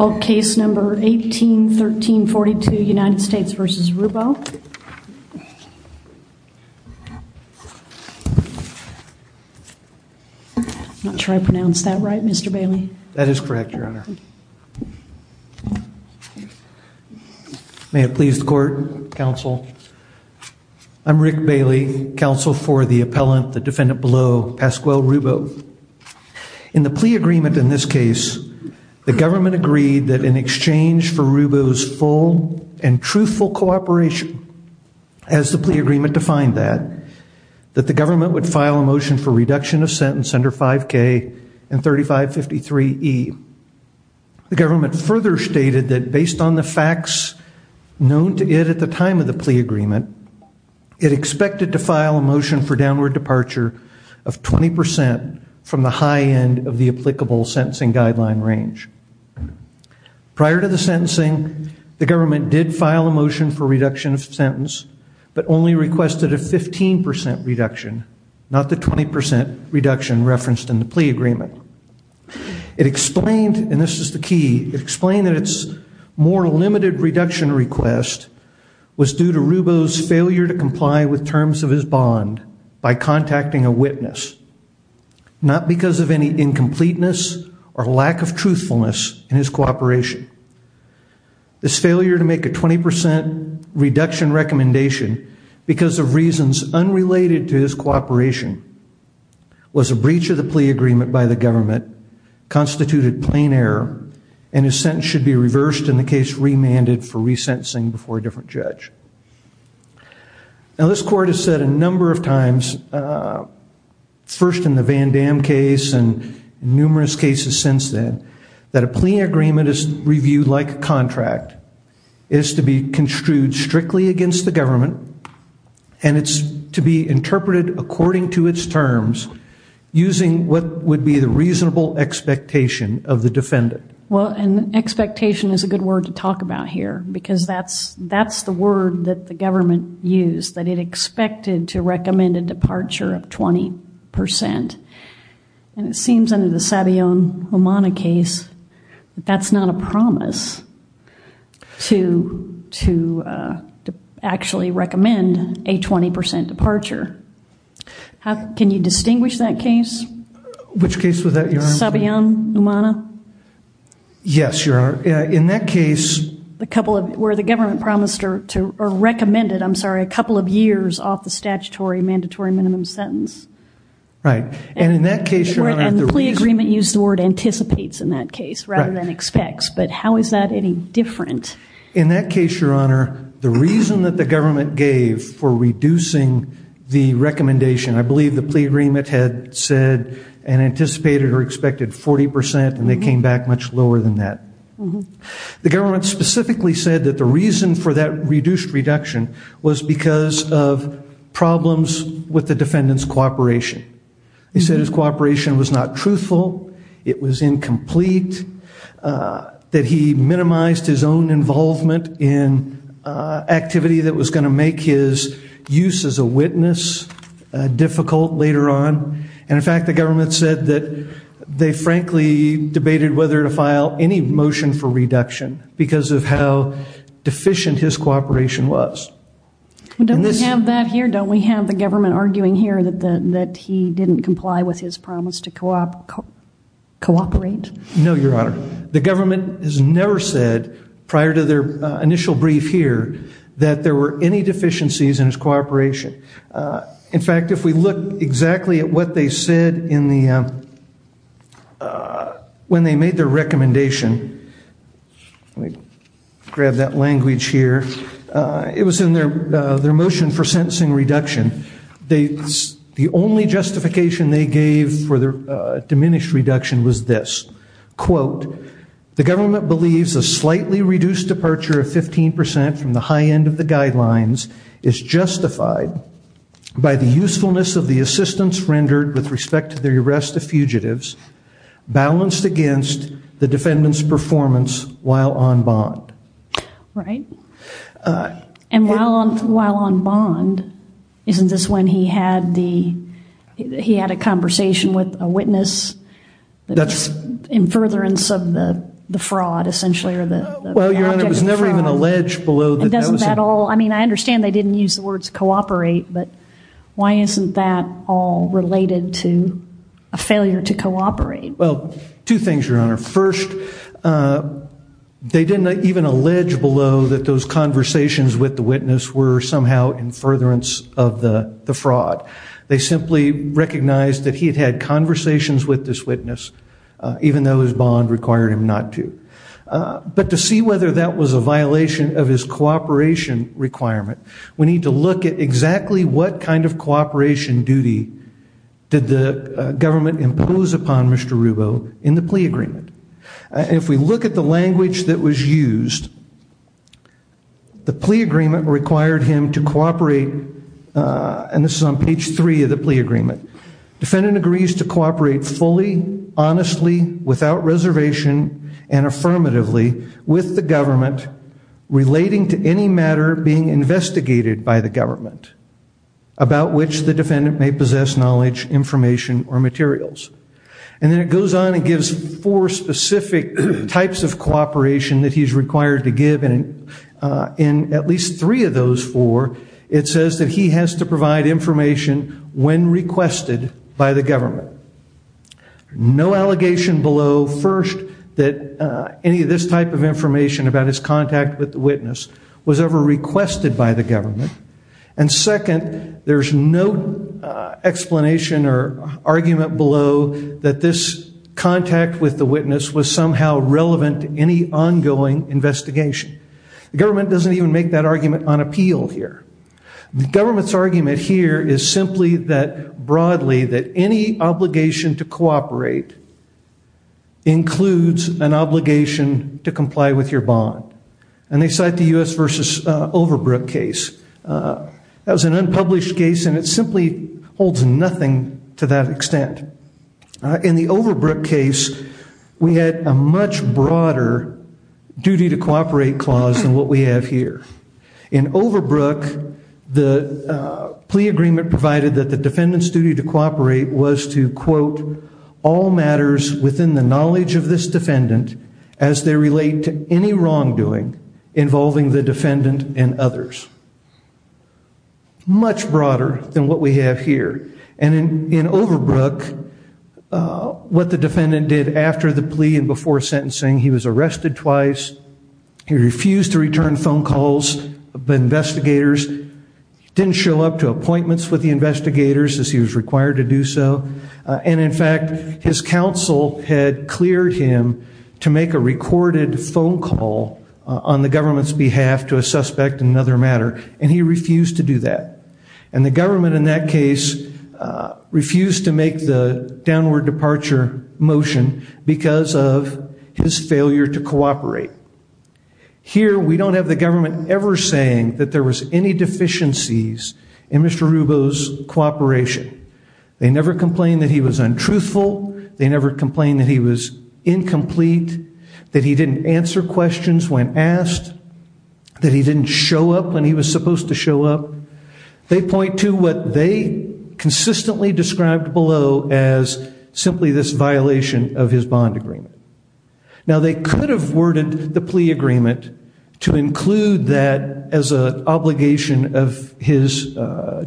I'm not sure I pronounced that right Mr. Bailey. That is correct your honor. May it please the court, counsel. I'm Rick Bailey, counsel for the appellant, the defendant below, Pasquale Rubbo. In the plea agreement in this case, the government agreed that in exchange for Rubbo's full and truthful cooperation, as the plea agreement defined that, that the government would file a motion for reduction of sentence under 5k and 3553 E. The government further stated that based on the facts known to it at the time of the plea agreement, it expected to file a motion for downward departure of 20% from the high end of the applicable sentencing guideline range. Prior to the sentencing, the government did file a motion for reduction of sentence, but only requested a 15% reduction, not the 20% reduction referenced in the plea agreement. It explained, and this is the key, it explained that it's more limited reduction request was due to Rubbo's failure to comply with terms of his bond by contacting a witness, not because of any incompleteness or lack of truthfulness in his cooperation. This failure to make a 20% reduction recommendation because of reasons unrelated to his cooperation was a breach of the plea agreement by the government, constituted plain error, and his sentence should be reversed in the case remanded for Now this court has said a number of times, first in the Van Dam case and numerous cases since then, that a plea agreement is reviewed like a contract. It is to be construed strictly against the government and it's to be interpreted according to its terms using what would be the reasonable expectation of the defendant. Well, and expectation is a good word to talk about here because that's the word that the government used, that it expected to recommend a departure of 20%. And it seems under the Sabayon-Umana case, that's not a promise to actually recommend a 20% departure. Can you distinguish that case? Which case was that, Your Honor? Sabayon-Umana? Yes, Your Honor. In that case, where the government promised to recommend it, I'm sorry, a couple of years off the statutory mandatory minimum sentence. Right. And in that case, Your Honor, the reason... And the plea agreement used the word anticipates in that case rather than expects, but how is that any different? In that case, Your Honor, the reason that the government gave for reducing the recommendation, I believe the plea agreement had said and anticipated or expected 40% and they came back much lower than that. The government specifically said that the reason for that reduced reduction was because of problems with the defendant's cooperation. He said his cooperation was not truthful, it was incomplete, that he minimized his own involvement in activity that was going to make his use as a witness difficult later on. And in fact, the government said that they frankly debated whether to file any motion for reduction because of how deficient his cooperation was. Don't we have that here? Don't we have the government arguing here that he didn't comply with his promise to cooperate? No, Your Honor. The government has never said, prior to their initial brief here, that there were any deficiencies in his cooperation. In fact, if we look exactly at what they said when they made their recommendation, let me grab that language here, it was in their motion for sentencing reduction. The only justification they gave for their diminished reduction was this, quote, the government believes a slightly reduced departure of 15% from the high end of the guidelines is justified by the usefulness of the assistance rendered with respect to the arrest of fugitives balanced against the defendant's performance while on bond. Right. And while on bond, isn't this when he had the, he had a conversation with a witness, that's in furtherance of the I mean, I understand they didn't use the words cooperate, but why isn't that all related to a failure to cooperate? Well, two things, Your Honor. First, they didn't even allege below that those conversations with the witness were somehow in furtherance of the fraud. They simply recognized that he had had conversations with this witness, even though his bond required him not to. But to see whether that was a violation of his cooperation requirement, we need to look at exactly what kind of cooperation duty did the government impose upon Mr. Rubo in the plea agreement. If we look at the language that was used, the plea agreement required him to cooperate, and this is on page three of the plea agreement, defendant agrees to cooperate fully, honestly, without reservation, and with the government, relating to any matter being investigated by the government, about which the defendant may possess knowledge, information, or materials. And then it goes on and gives four specific types of cooperation that he's required to give, and in at least three of those four, it says that he has to provide information when requested by the government. No allegation below, first, that any of this type of information about his contact with the witness was ever requested by the government, and second, there's no explanation or argument below that this contact with the witness was somehow relevant to any ongoing investigation. The government doesn't even make that argument on appeal here. The government's argument here is simply that, broadly, that any obligation to comply with your bond, and they cite the U.S. versus Overbrook case. That was an unpublished case, and it simply holds nothing to that extent. In the Overbrook case, we had a much broader duty to cooperate clause than what we have here. In Overbrook, the plea agreement provided that the defendant's duty to cooperate was to, quote, all matters within the knowledge of this defendant as they relate to any wrongdoing involving the defendant and others. Much broader than what we have here, and in Overbrook, what the defendant did after the plea and before sentencing, he was arrested twice, he refused to return phone calls, investigators didn't show up to appointments with the investigators as he was required to do so, and in fact, his counsel had cleared him to make a recorded phone call on the government's behalf to a suspect in another matter, and he refused to do that. And the government, in that case, refused to make the downward departure motion because of his failure to cooperate. Here, we don't have the government ever saying that there was any deficiencies in Mr. Rubo's cooperation. They never complained that he was untruthful, they never complained that he was incomplete, that he didn't answer questions when asked, that he didn't show up when he was supposed to show up. They point to what they consistently described below as simply this violation of his bond agreement. Now, they could have worded the plea agreement to include that as an obligation of his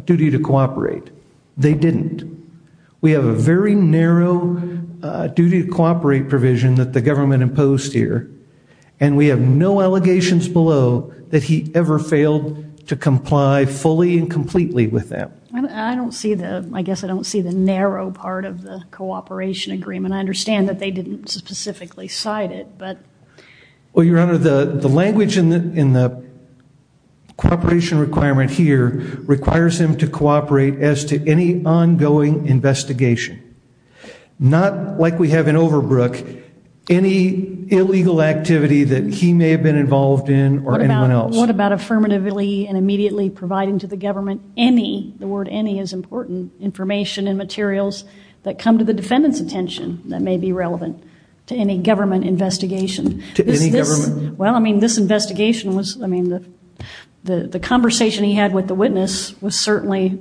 duty to cooperate. They didn't. We have a very narrow duty to cooperate provision that the government imposed here, and we have no allegations below that he ever failed to comply fully and completely with that. I don't see the, I guess I don't see the narrow part of the cooperation agreement. I understand that they didn't specifically cite it, but... Well, Your Honor, the language in the cooperation requirement here requires him to cooperate as to any ongoing investigation. Not like we have in Overbrook, any illegal activity that he may have been involved in or anyone else. What about affirmatively and immediately providing to the government any, the word any is important, information and materials that come to the defendant's attention that may be relevant to any government investigation? To any government? Well, I mean, this investigation was, I mean, the conversation he had with the witness was certainly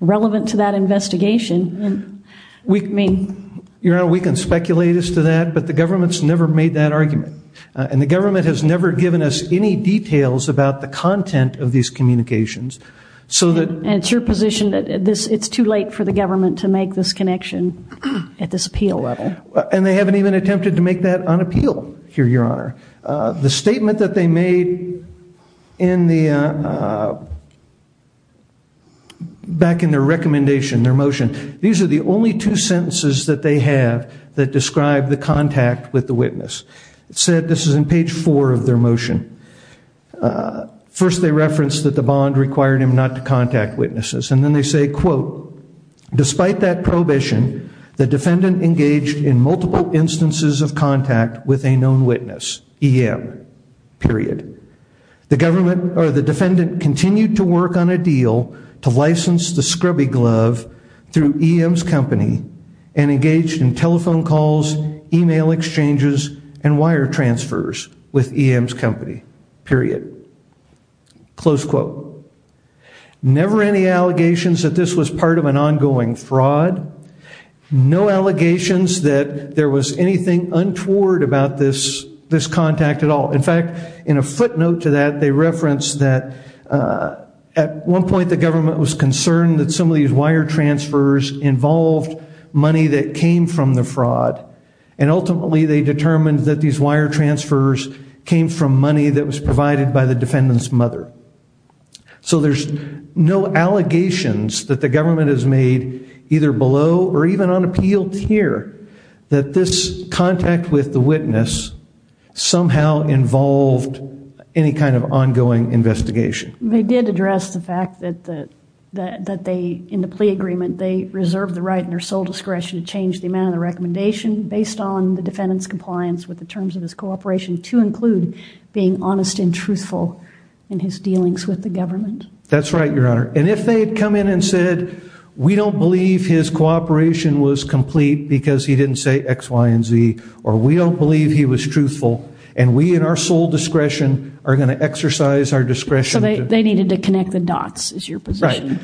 relevant to that investigation. We mean... Your Honor, we can speculate as to that, but the government's never made that argument, and the government has never given us any details about the content of these communications, so that... And it's your position that this, it's too late for the government to make this connection at this appeal level. And they haven't even attempted to make that on appeal here, Your Honor. The statement that they made in the, back in their recommendation, their motion, these are the only two sentences that they have that describe the contact with the witness. It said, this is in page four of their motion, first they referenced that the bond required him not to contact witnesses, and then they say, quote, despite that prohibition, the defendant engaged in multiple instances of contact with a known witness, EM, period. The government, or the defendant, continued to work on a deal to license the scrubby glove through EM's company and engaged in telephone calls, email exchanges, and wire transfers with EM's company, period. Close quote. Never any allegations that this was part of an untoward about this, this contact at all. In fact, in a footnote to that, they referenced that at one point the government was concerned that some of these wire transfers involved money that came from the fraud, and ultimately they determined that these wire transfers came from money that was provided by the defendant's mother. So there's no allegations that the government has made either below or even on appeal here, that this contact with the witness somehow involved any kind of ongoing investigation. They did address the fact that they, in the plea agreement, they reserved the right and their sole discretion to change the amount of the recommendation based on the defendant's compliance with the terms of his cooperation to include being honest and truthful in his dealings with the government. That's right, your honor, and if they had come in and said, we don't believe his cooperation was complete because he didn't say X, Y, and Z, or we don't believe he was truthful, and we in our sole discretion are going to exercise our discretion. They needed to connect the dots is your position.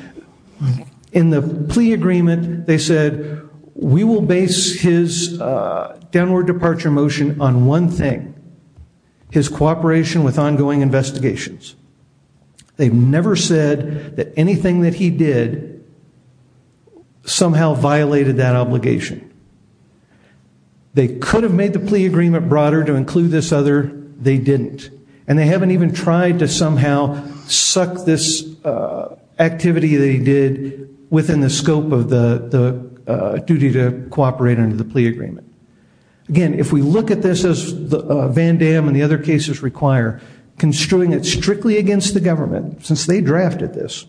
In the plea agreement, they said, we will base his downward departure motion on one thing, his cooperation with ongoing investigations. They've never said that anything that he did somehow violated that obligation. They could have made the plea agreement broader to include this other, they didn't. And they haven't even tried to somehow suck this activity they did within the scope of the duty to cooperate under the plea agreement. Again, if we look at this as Van Damme and the other cases require, construing it strictly against the government, since they drafted this,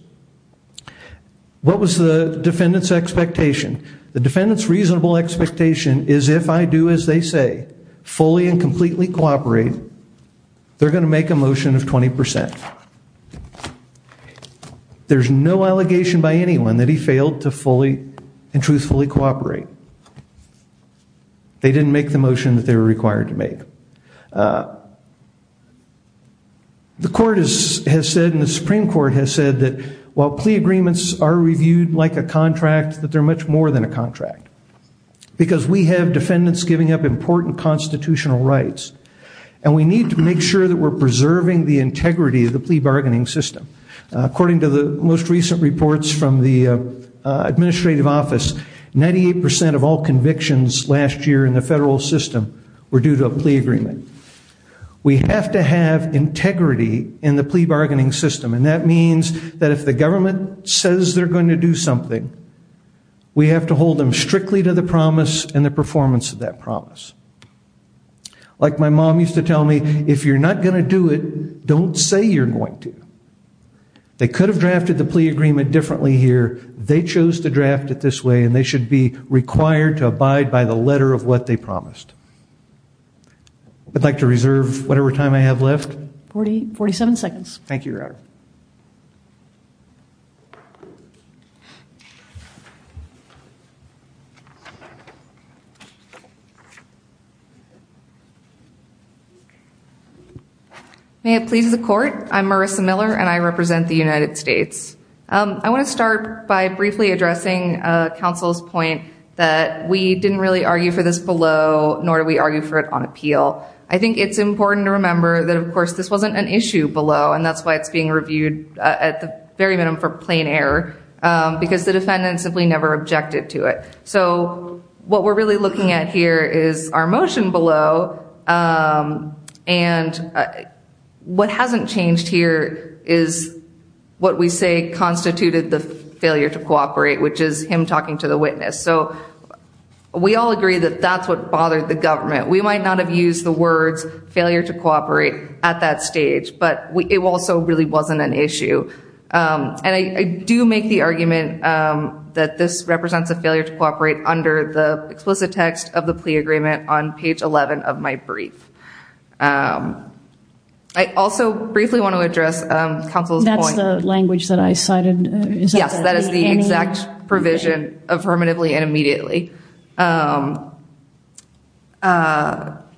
what was the defendant's expectation? The defendant's reasonable expectation is if I do as they say, fully and completely cooperate, they're going to make a motion of 20%. There's no allegation by anyone that he failed to fully and truthfully cooperate. They didn't make the motion that they were required to make. The court has said, and the Supreme Court has said, that while plea agreements are reviewed like a contract, that they're much more than a contract. Because we have defendants giving up important constitutional rights. And we need to make sure that we're preserving the integrity of the plea bargaining system. According to the most recent reports from the administrative office, 98% of all convictions last year in the federal system were due to a plea agreement. We have to have integrity in the plea bargaining system. And that means that if the government says they're going to do something, we have to hold them strictly to the promise and the performance of that promise. Like my mom used to tell me, if you're not going to do it, don't say you're going to. They could have drafted the plea agreement differently here. They chose to draft it this way and they should be required to abide by the letter of what they promised. I'd like to reserve whatever time I have left. 40, 47 seconds. Thank you, Your Honor. May it please the court, I'm Marissa Miller and I represent the United States. I want to start by briefly addressing counsel's point that we didn't really argue for this below, nor do we argue for it on appeal. I think it's important to remember that, of course, this wasn't an issue below. And that's why it's being reviewed at the very minimum for plain error, because the defendant simply never objected to it. So what we're really looking at here is our motion below. And what hasn't changed here is what we say constituted the failure to cooperate, which is him talking to the witness. So we all agree that that's what bothered the government. We might not have used the words failure to cooperate in an issue. And I do make the argument that this represents a failure to cooperate under the explicit text of the plea agreement on page 11 of my brief. I also briefly want to address counsel's point. That's the language that I cited? Yes, that is the exact provision affirmatively and immediately. I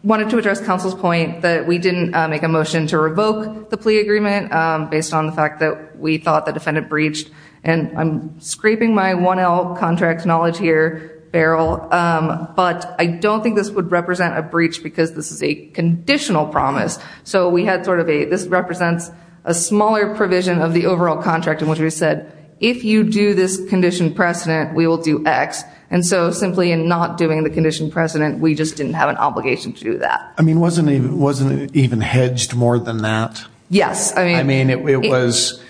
wanted to address counsel's point that we didn't make a motion to revoke the plea agreement based on the fact that we thought the defendant breached. And I'm scraping my 1L contract knowledge here barrel, but I don't think this would represent a breach because this is a conditional promise. So we had sort of a this represents a smaller provision of the overall contract in which we said, if you do this condition precedent, we will do X. And so simply in not doing the condition precedent, we just didn't have an obligation to do that. I mean wasn't it even hedged more than that? Yes. I mean it was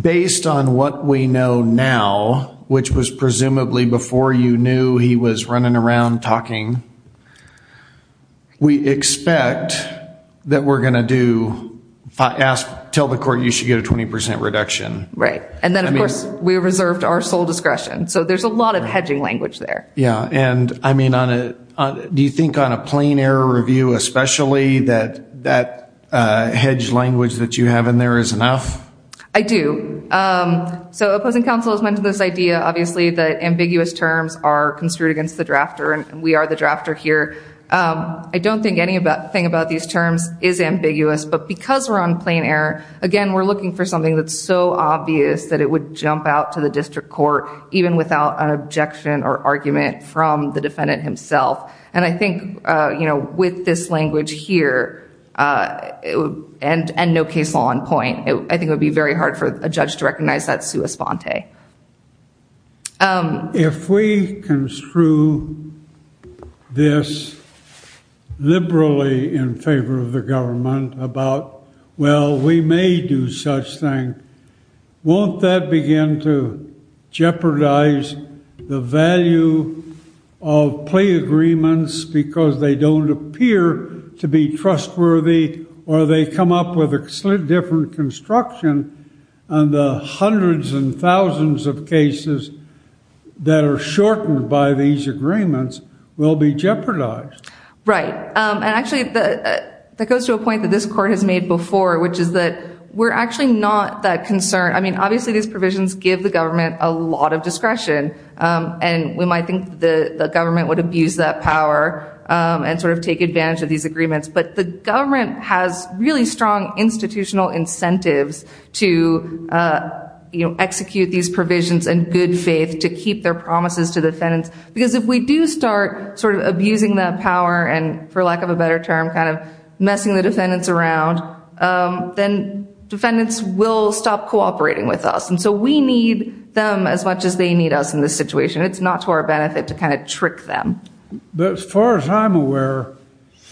based on what we know now, which was presumably before you knew he was running around talking. We expect that we're gonna do, tell the court you should get a 20% reduction. Right. And then of course we reserved our sole discretion. So there's a lot of hedging language there. Yeah. And I mean, do you think on a plain error review especially that that hedge language that you have in there is enough? I do. So opposing counsel has mentioned this idea obviously that ambiguous terms are construed against the drafter and we are the drafter here. I don't think any about thing about these terms is ambiguous, but because we're on plain error, again we're looking for something that's so obvious that it would jump out to the district court even without an objection or argument from the defendant himself. And I think, you know, with this language here, and no case law on point, I think it would be very hard for a judge to recognize that sua sponte. If we construe this liberally in favor of the government about, well we may do such thing, won't that begin to jeopardize the value of plea agreements because they don't appear to be trustworthy or they come up with a different construction and the hundreds and thousands of cases that are shortened by these agreements will be jeopardized. Right. And actually that goes to a point that this court has made before which is that we're actually not that concerned. I mean obviously these provisions give the government a lot of discretion and we might think the government would abuse that power and sort of take advantage of these agreements, but the government has really strong institutional incentives to execute these provisions in good faith to keep their promises to defendants because if we do start sort of abusing that power and for lack of a better term kind of messing the defendants around, then defendants will stop cooperating with us. And so we need them as much as they need us in this situation. It's not to our benefit to kind of trick them. But as far as I'm aware,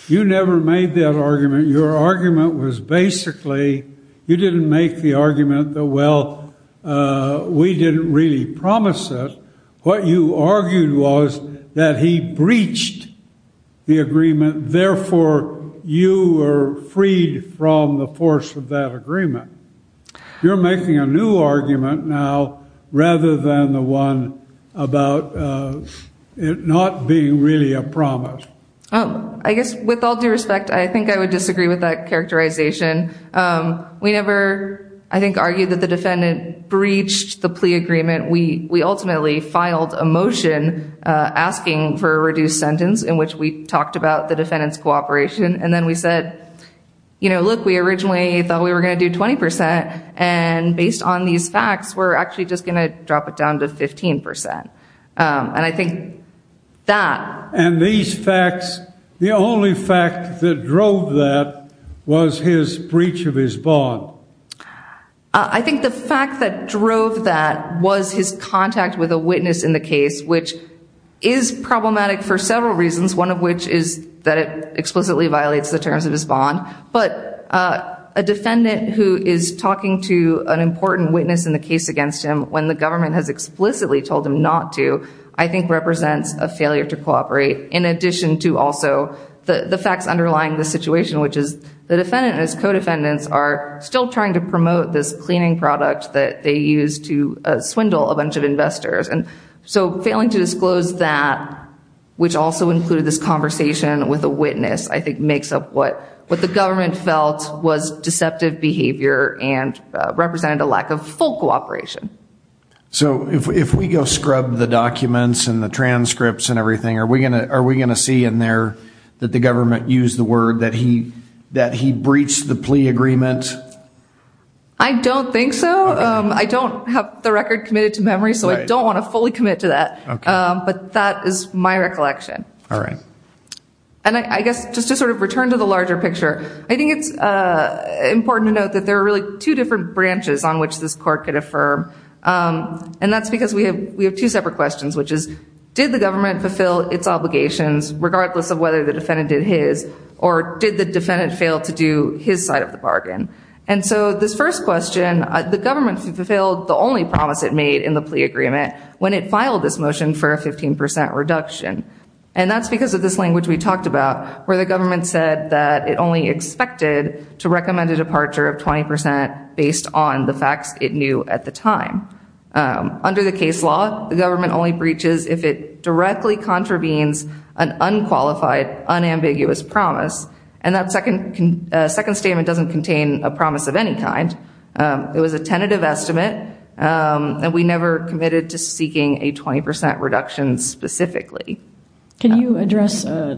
you never made that argument. Your argument was basically, you didn't make the argument that, well, we didn't really promise it. What you argued was that he therefore, you were freed from the force of that agreement. You're making a new argument now rather than the one about it not being really a promise. Oh, I guess with all due respect, I think I would disagree with that characterization. We never, I think, argued that the defendant breached the plea agreement. We ultimately filed a motion asking for a reduced sentence in which we talked about the defendant's cooperation. And then we said, you know, look, we originally thought we were going to do 20 percent. And based on these facts, we're actually just going to drop it down to 15 percent. And I think that... And these facts, the only fact that drove that was his breach of his bond. I think the fact that drove that was his contact with a witness in the case, which is problematic for several reasons, one of which is that it explicitly violates the terms of his bond. But a defendant who is talking to an important witness in the case against him when the government has explicitly told him not to, I think represents a failure to cooperate in addition to also the facts underlying the situation, which is the defendant and his co-defendants are still trying to promote this cleaning product that they use to swindle a defendant. So to disclose that, which also included this conversation with a witness, I think makes up what the government felt was deceptive behavior and represented a lack of full cooperation. So if we go scrub the documents and the transcripts and everything, are we going to see in there that the government used the word that he breached the plea agreement? I don't think so. I don't have the record committed to memory, so I don't want to fully commit to that. But that is my recollection. And I guess just to sort of return to the larger picture, I think it's important to note that there are really two different branches on which this court could affirm. And that's because we have two separate questions, which is did the government fulfill its obligations regardless of whether the defendant did his or did the defendant fail to do his side of the bargain? And so this first question, the government fulfilled the only promise it made in the plea agreement when it filed this motion for a 15% reduction. And that's because of this language we talked about, where the government said that it only expected to recommend a departure of 20% based on the facts it knew at the time. Under the case law, the government only breaches if it directly contravenes an unqualified, unambiguous promise. And that we never committed to seeking a 20% reduction specifically. Can you address the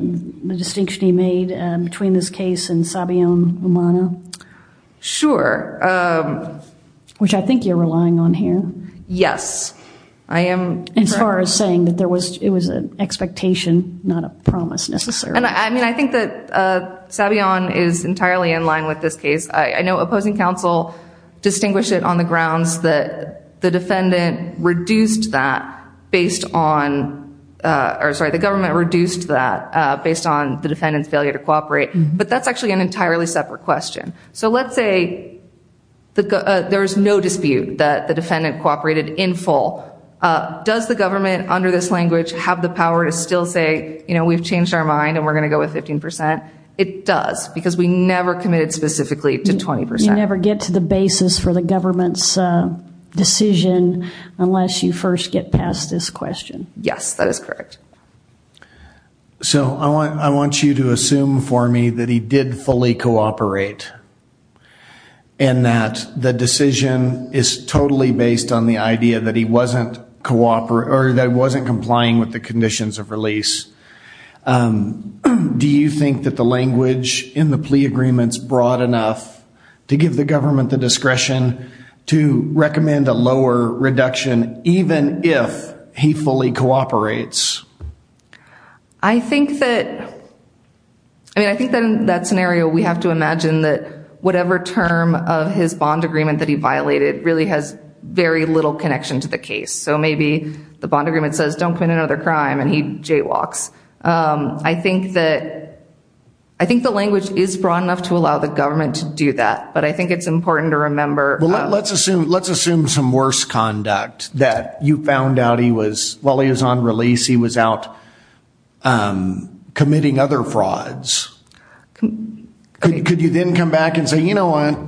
distinction he made between this case and Sabayon-Umana? Sure. Which I think you're relying on here. Yes, I am. As far as saying that it was an expectation, not a promise necessarily. I mean, I think that Sabayon is entirely in line with this case. I know opposing counsel distinguish it on the grounds that the defendant reduced that based on, or sorry, the government reduced that based on the defendant's failure to cooperate. But that's actually an entirely separate question. So let's say there was no dispute that the defendant cooperated in full. Does the government under this language have the power to still say, we've changed our mind and we're going to go with 15%? It does, because we never committed specifically to 20%. We never get to the basis for the government's decision unless you first get past this question. Yes, that is correct. So I want you to assume for me that he did fully cooperate. And that the decision is totally based on the idea that he wasn't complying with the conditions of release. Do you think that the language in the plea agreement's broad enough to give the government the discretion to recommend a lower reduction, even if he fully cooperates? I think that, I mean, I think that in that scenario, we have to imagine that whatever term of his bond agreement that he violated really has very little connection to the case. So maybe the bond agreement says, don't commit another crime, and he jaywalks. I think that, I think the language is broad enough to allow the government to do that. But I think it's important to remember. Well, let's assume some worse conduct that you found out he was, while he was on release, he was out committing other frauds. Could you then come back and say, you know what,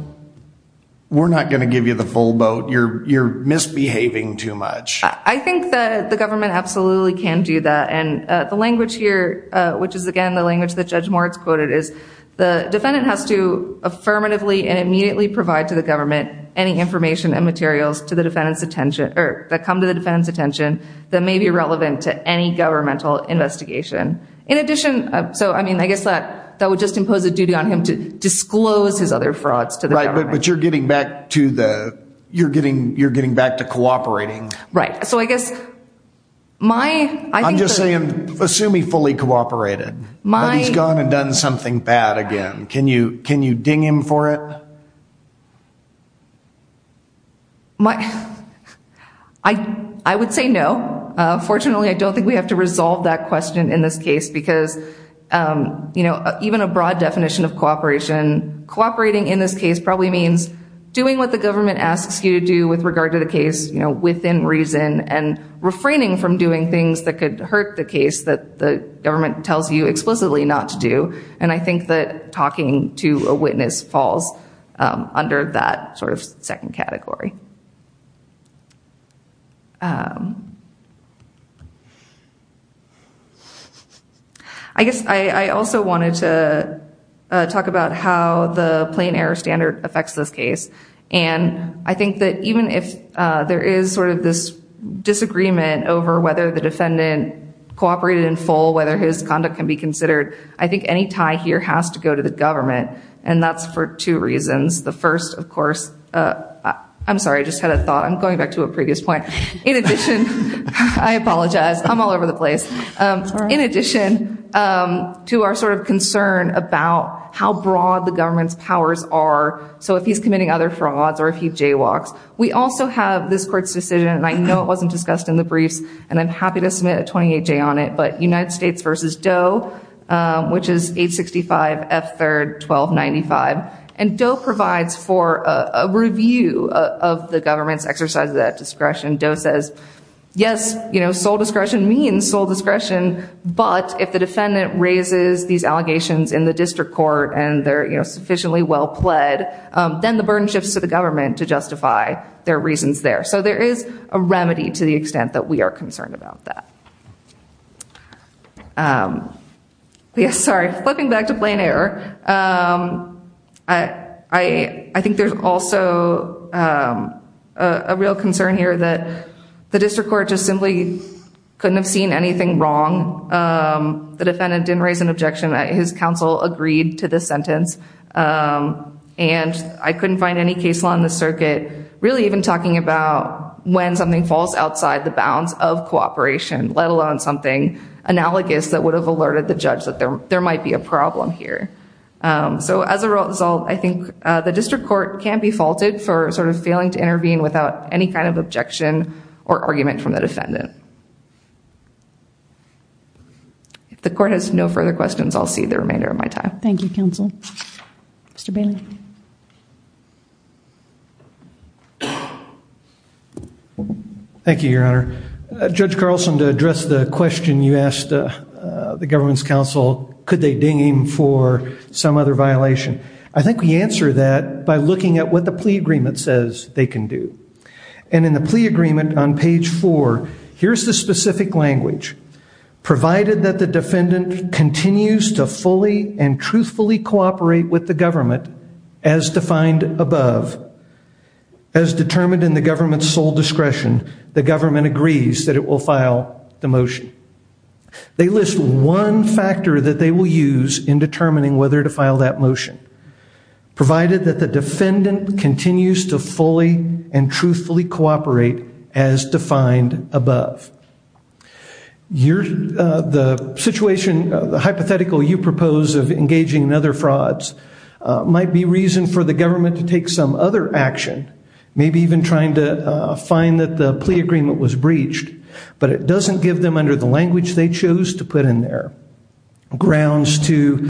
we're not going to give you the full boat. You're misbehaving too much. I think that the government absolutely can do that. And the language here, which is, again, the language that Judge Moritz quoted, is the defendant has to affirmatively and immediately provide to the government any information and materials to the defendant's attention, or that come to the defendant's attention that may be relevant to any governmental investigation. In addition, so I mean, I guess that would just impose a duty on him to disclose his other frauds to the government. But you're getting back to the, you're getting, you're getting back to cooperating. Right. So I guess my- I'm just saying, assume he fully cooperated. My- He's gone and done something bad again. Can you, can you ding him for it? My, I would say no. Fortunately, I don't think we have to resolve that question in this case, because, you know, even a broad definition of cooperation, cooperating in this case probably means doing what the government asks you to do with regard to the case, you know, within reason, and refraining from doing things that could hurt the case that the government tells you explicitly not to do. And I think that talking to a witness falls under that sort of second category. I guess I also wanted to talk about how the plain error standard affects this case. And I think that even if there is sort of this disagreement over whether the defendant cooperated in full, whether his conduct can be considered, I think any tie here has to go to the government. And that's for two reasons. The first, of course, I'm sorry, I just had a thought. I'm going back to a previous point. In addition, I apologize. I'm all over the place. In addition to our sort of concern about how broad the government's powers are, so if he's committing other frauds or if he jaywalks, we also have this court's decision, and I know it wasn't discussed in the briefs, and I'm happy to submit a 28-J on it, but United States v. Doe, which is 865 F. 3rd 1295. And Doe provides for a review of the government's exercise at discretion. Doe says, yes, sole discretion means sole discretion, but if the defendant raises these allegations in the district court and they're sufficiently well pled, then the burden shifts to the government to justify their reasons there. So there is a remedy to the extent that we are concerned about that. Sorry, flipping back to plain error, I think there's also a real concern here that the district court just simply couldn't have seen anything wrong. The defendant didn't raise an objection. His counsel agreed to the sentence, and I couldn't find any case law in the circuit really even talking about when something falls outside the bounds of cooperation, let alone something analogous that would have alerted the judge that there might be a problem here. So as a result, I think the district court can be faulted for sort of failing to intervene without any kind of objection or argument from the defendant. If the court has no further questions, I'll see the remainder of my time. Thank you, counsel. Mr. Bailey. Thank you, Your Honor. Judge Carlson, to address the question you asked the government's counsel, could they deem for some other violation? I think we answer that by looking at what the plea agreement says they can do. And in the plea agreement on page four, here's the specific language. Provided that the defendant continues to fully and truthfully cooperate with the government as defined above, as determined in the government's sole discretion, the government agrees that it will file the motion. They list one factor that they will use in determining whether to file that motion, provided that the defendant continues to fully and truthfully cooperate as defined above. The hypothetical you propose of engaging in other frauds might be reason for the government to take some other action, maybe even trying to find that the plea agreement was breached, but it doesn't give them under the language they chose to put in there grounds to.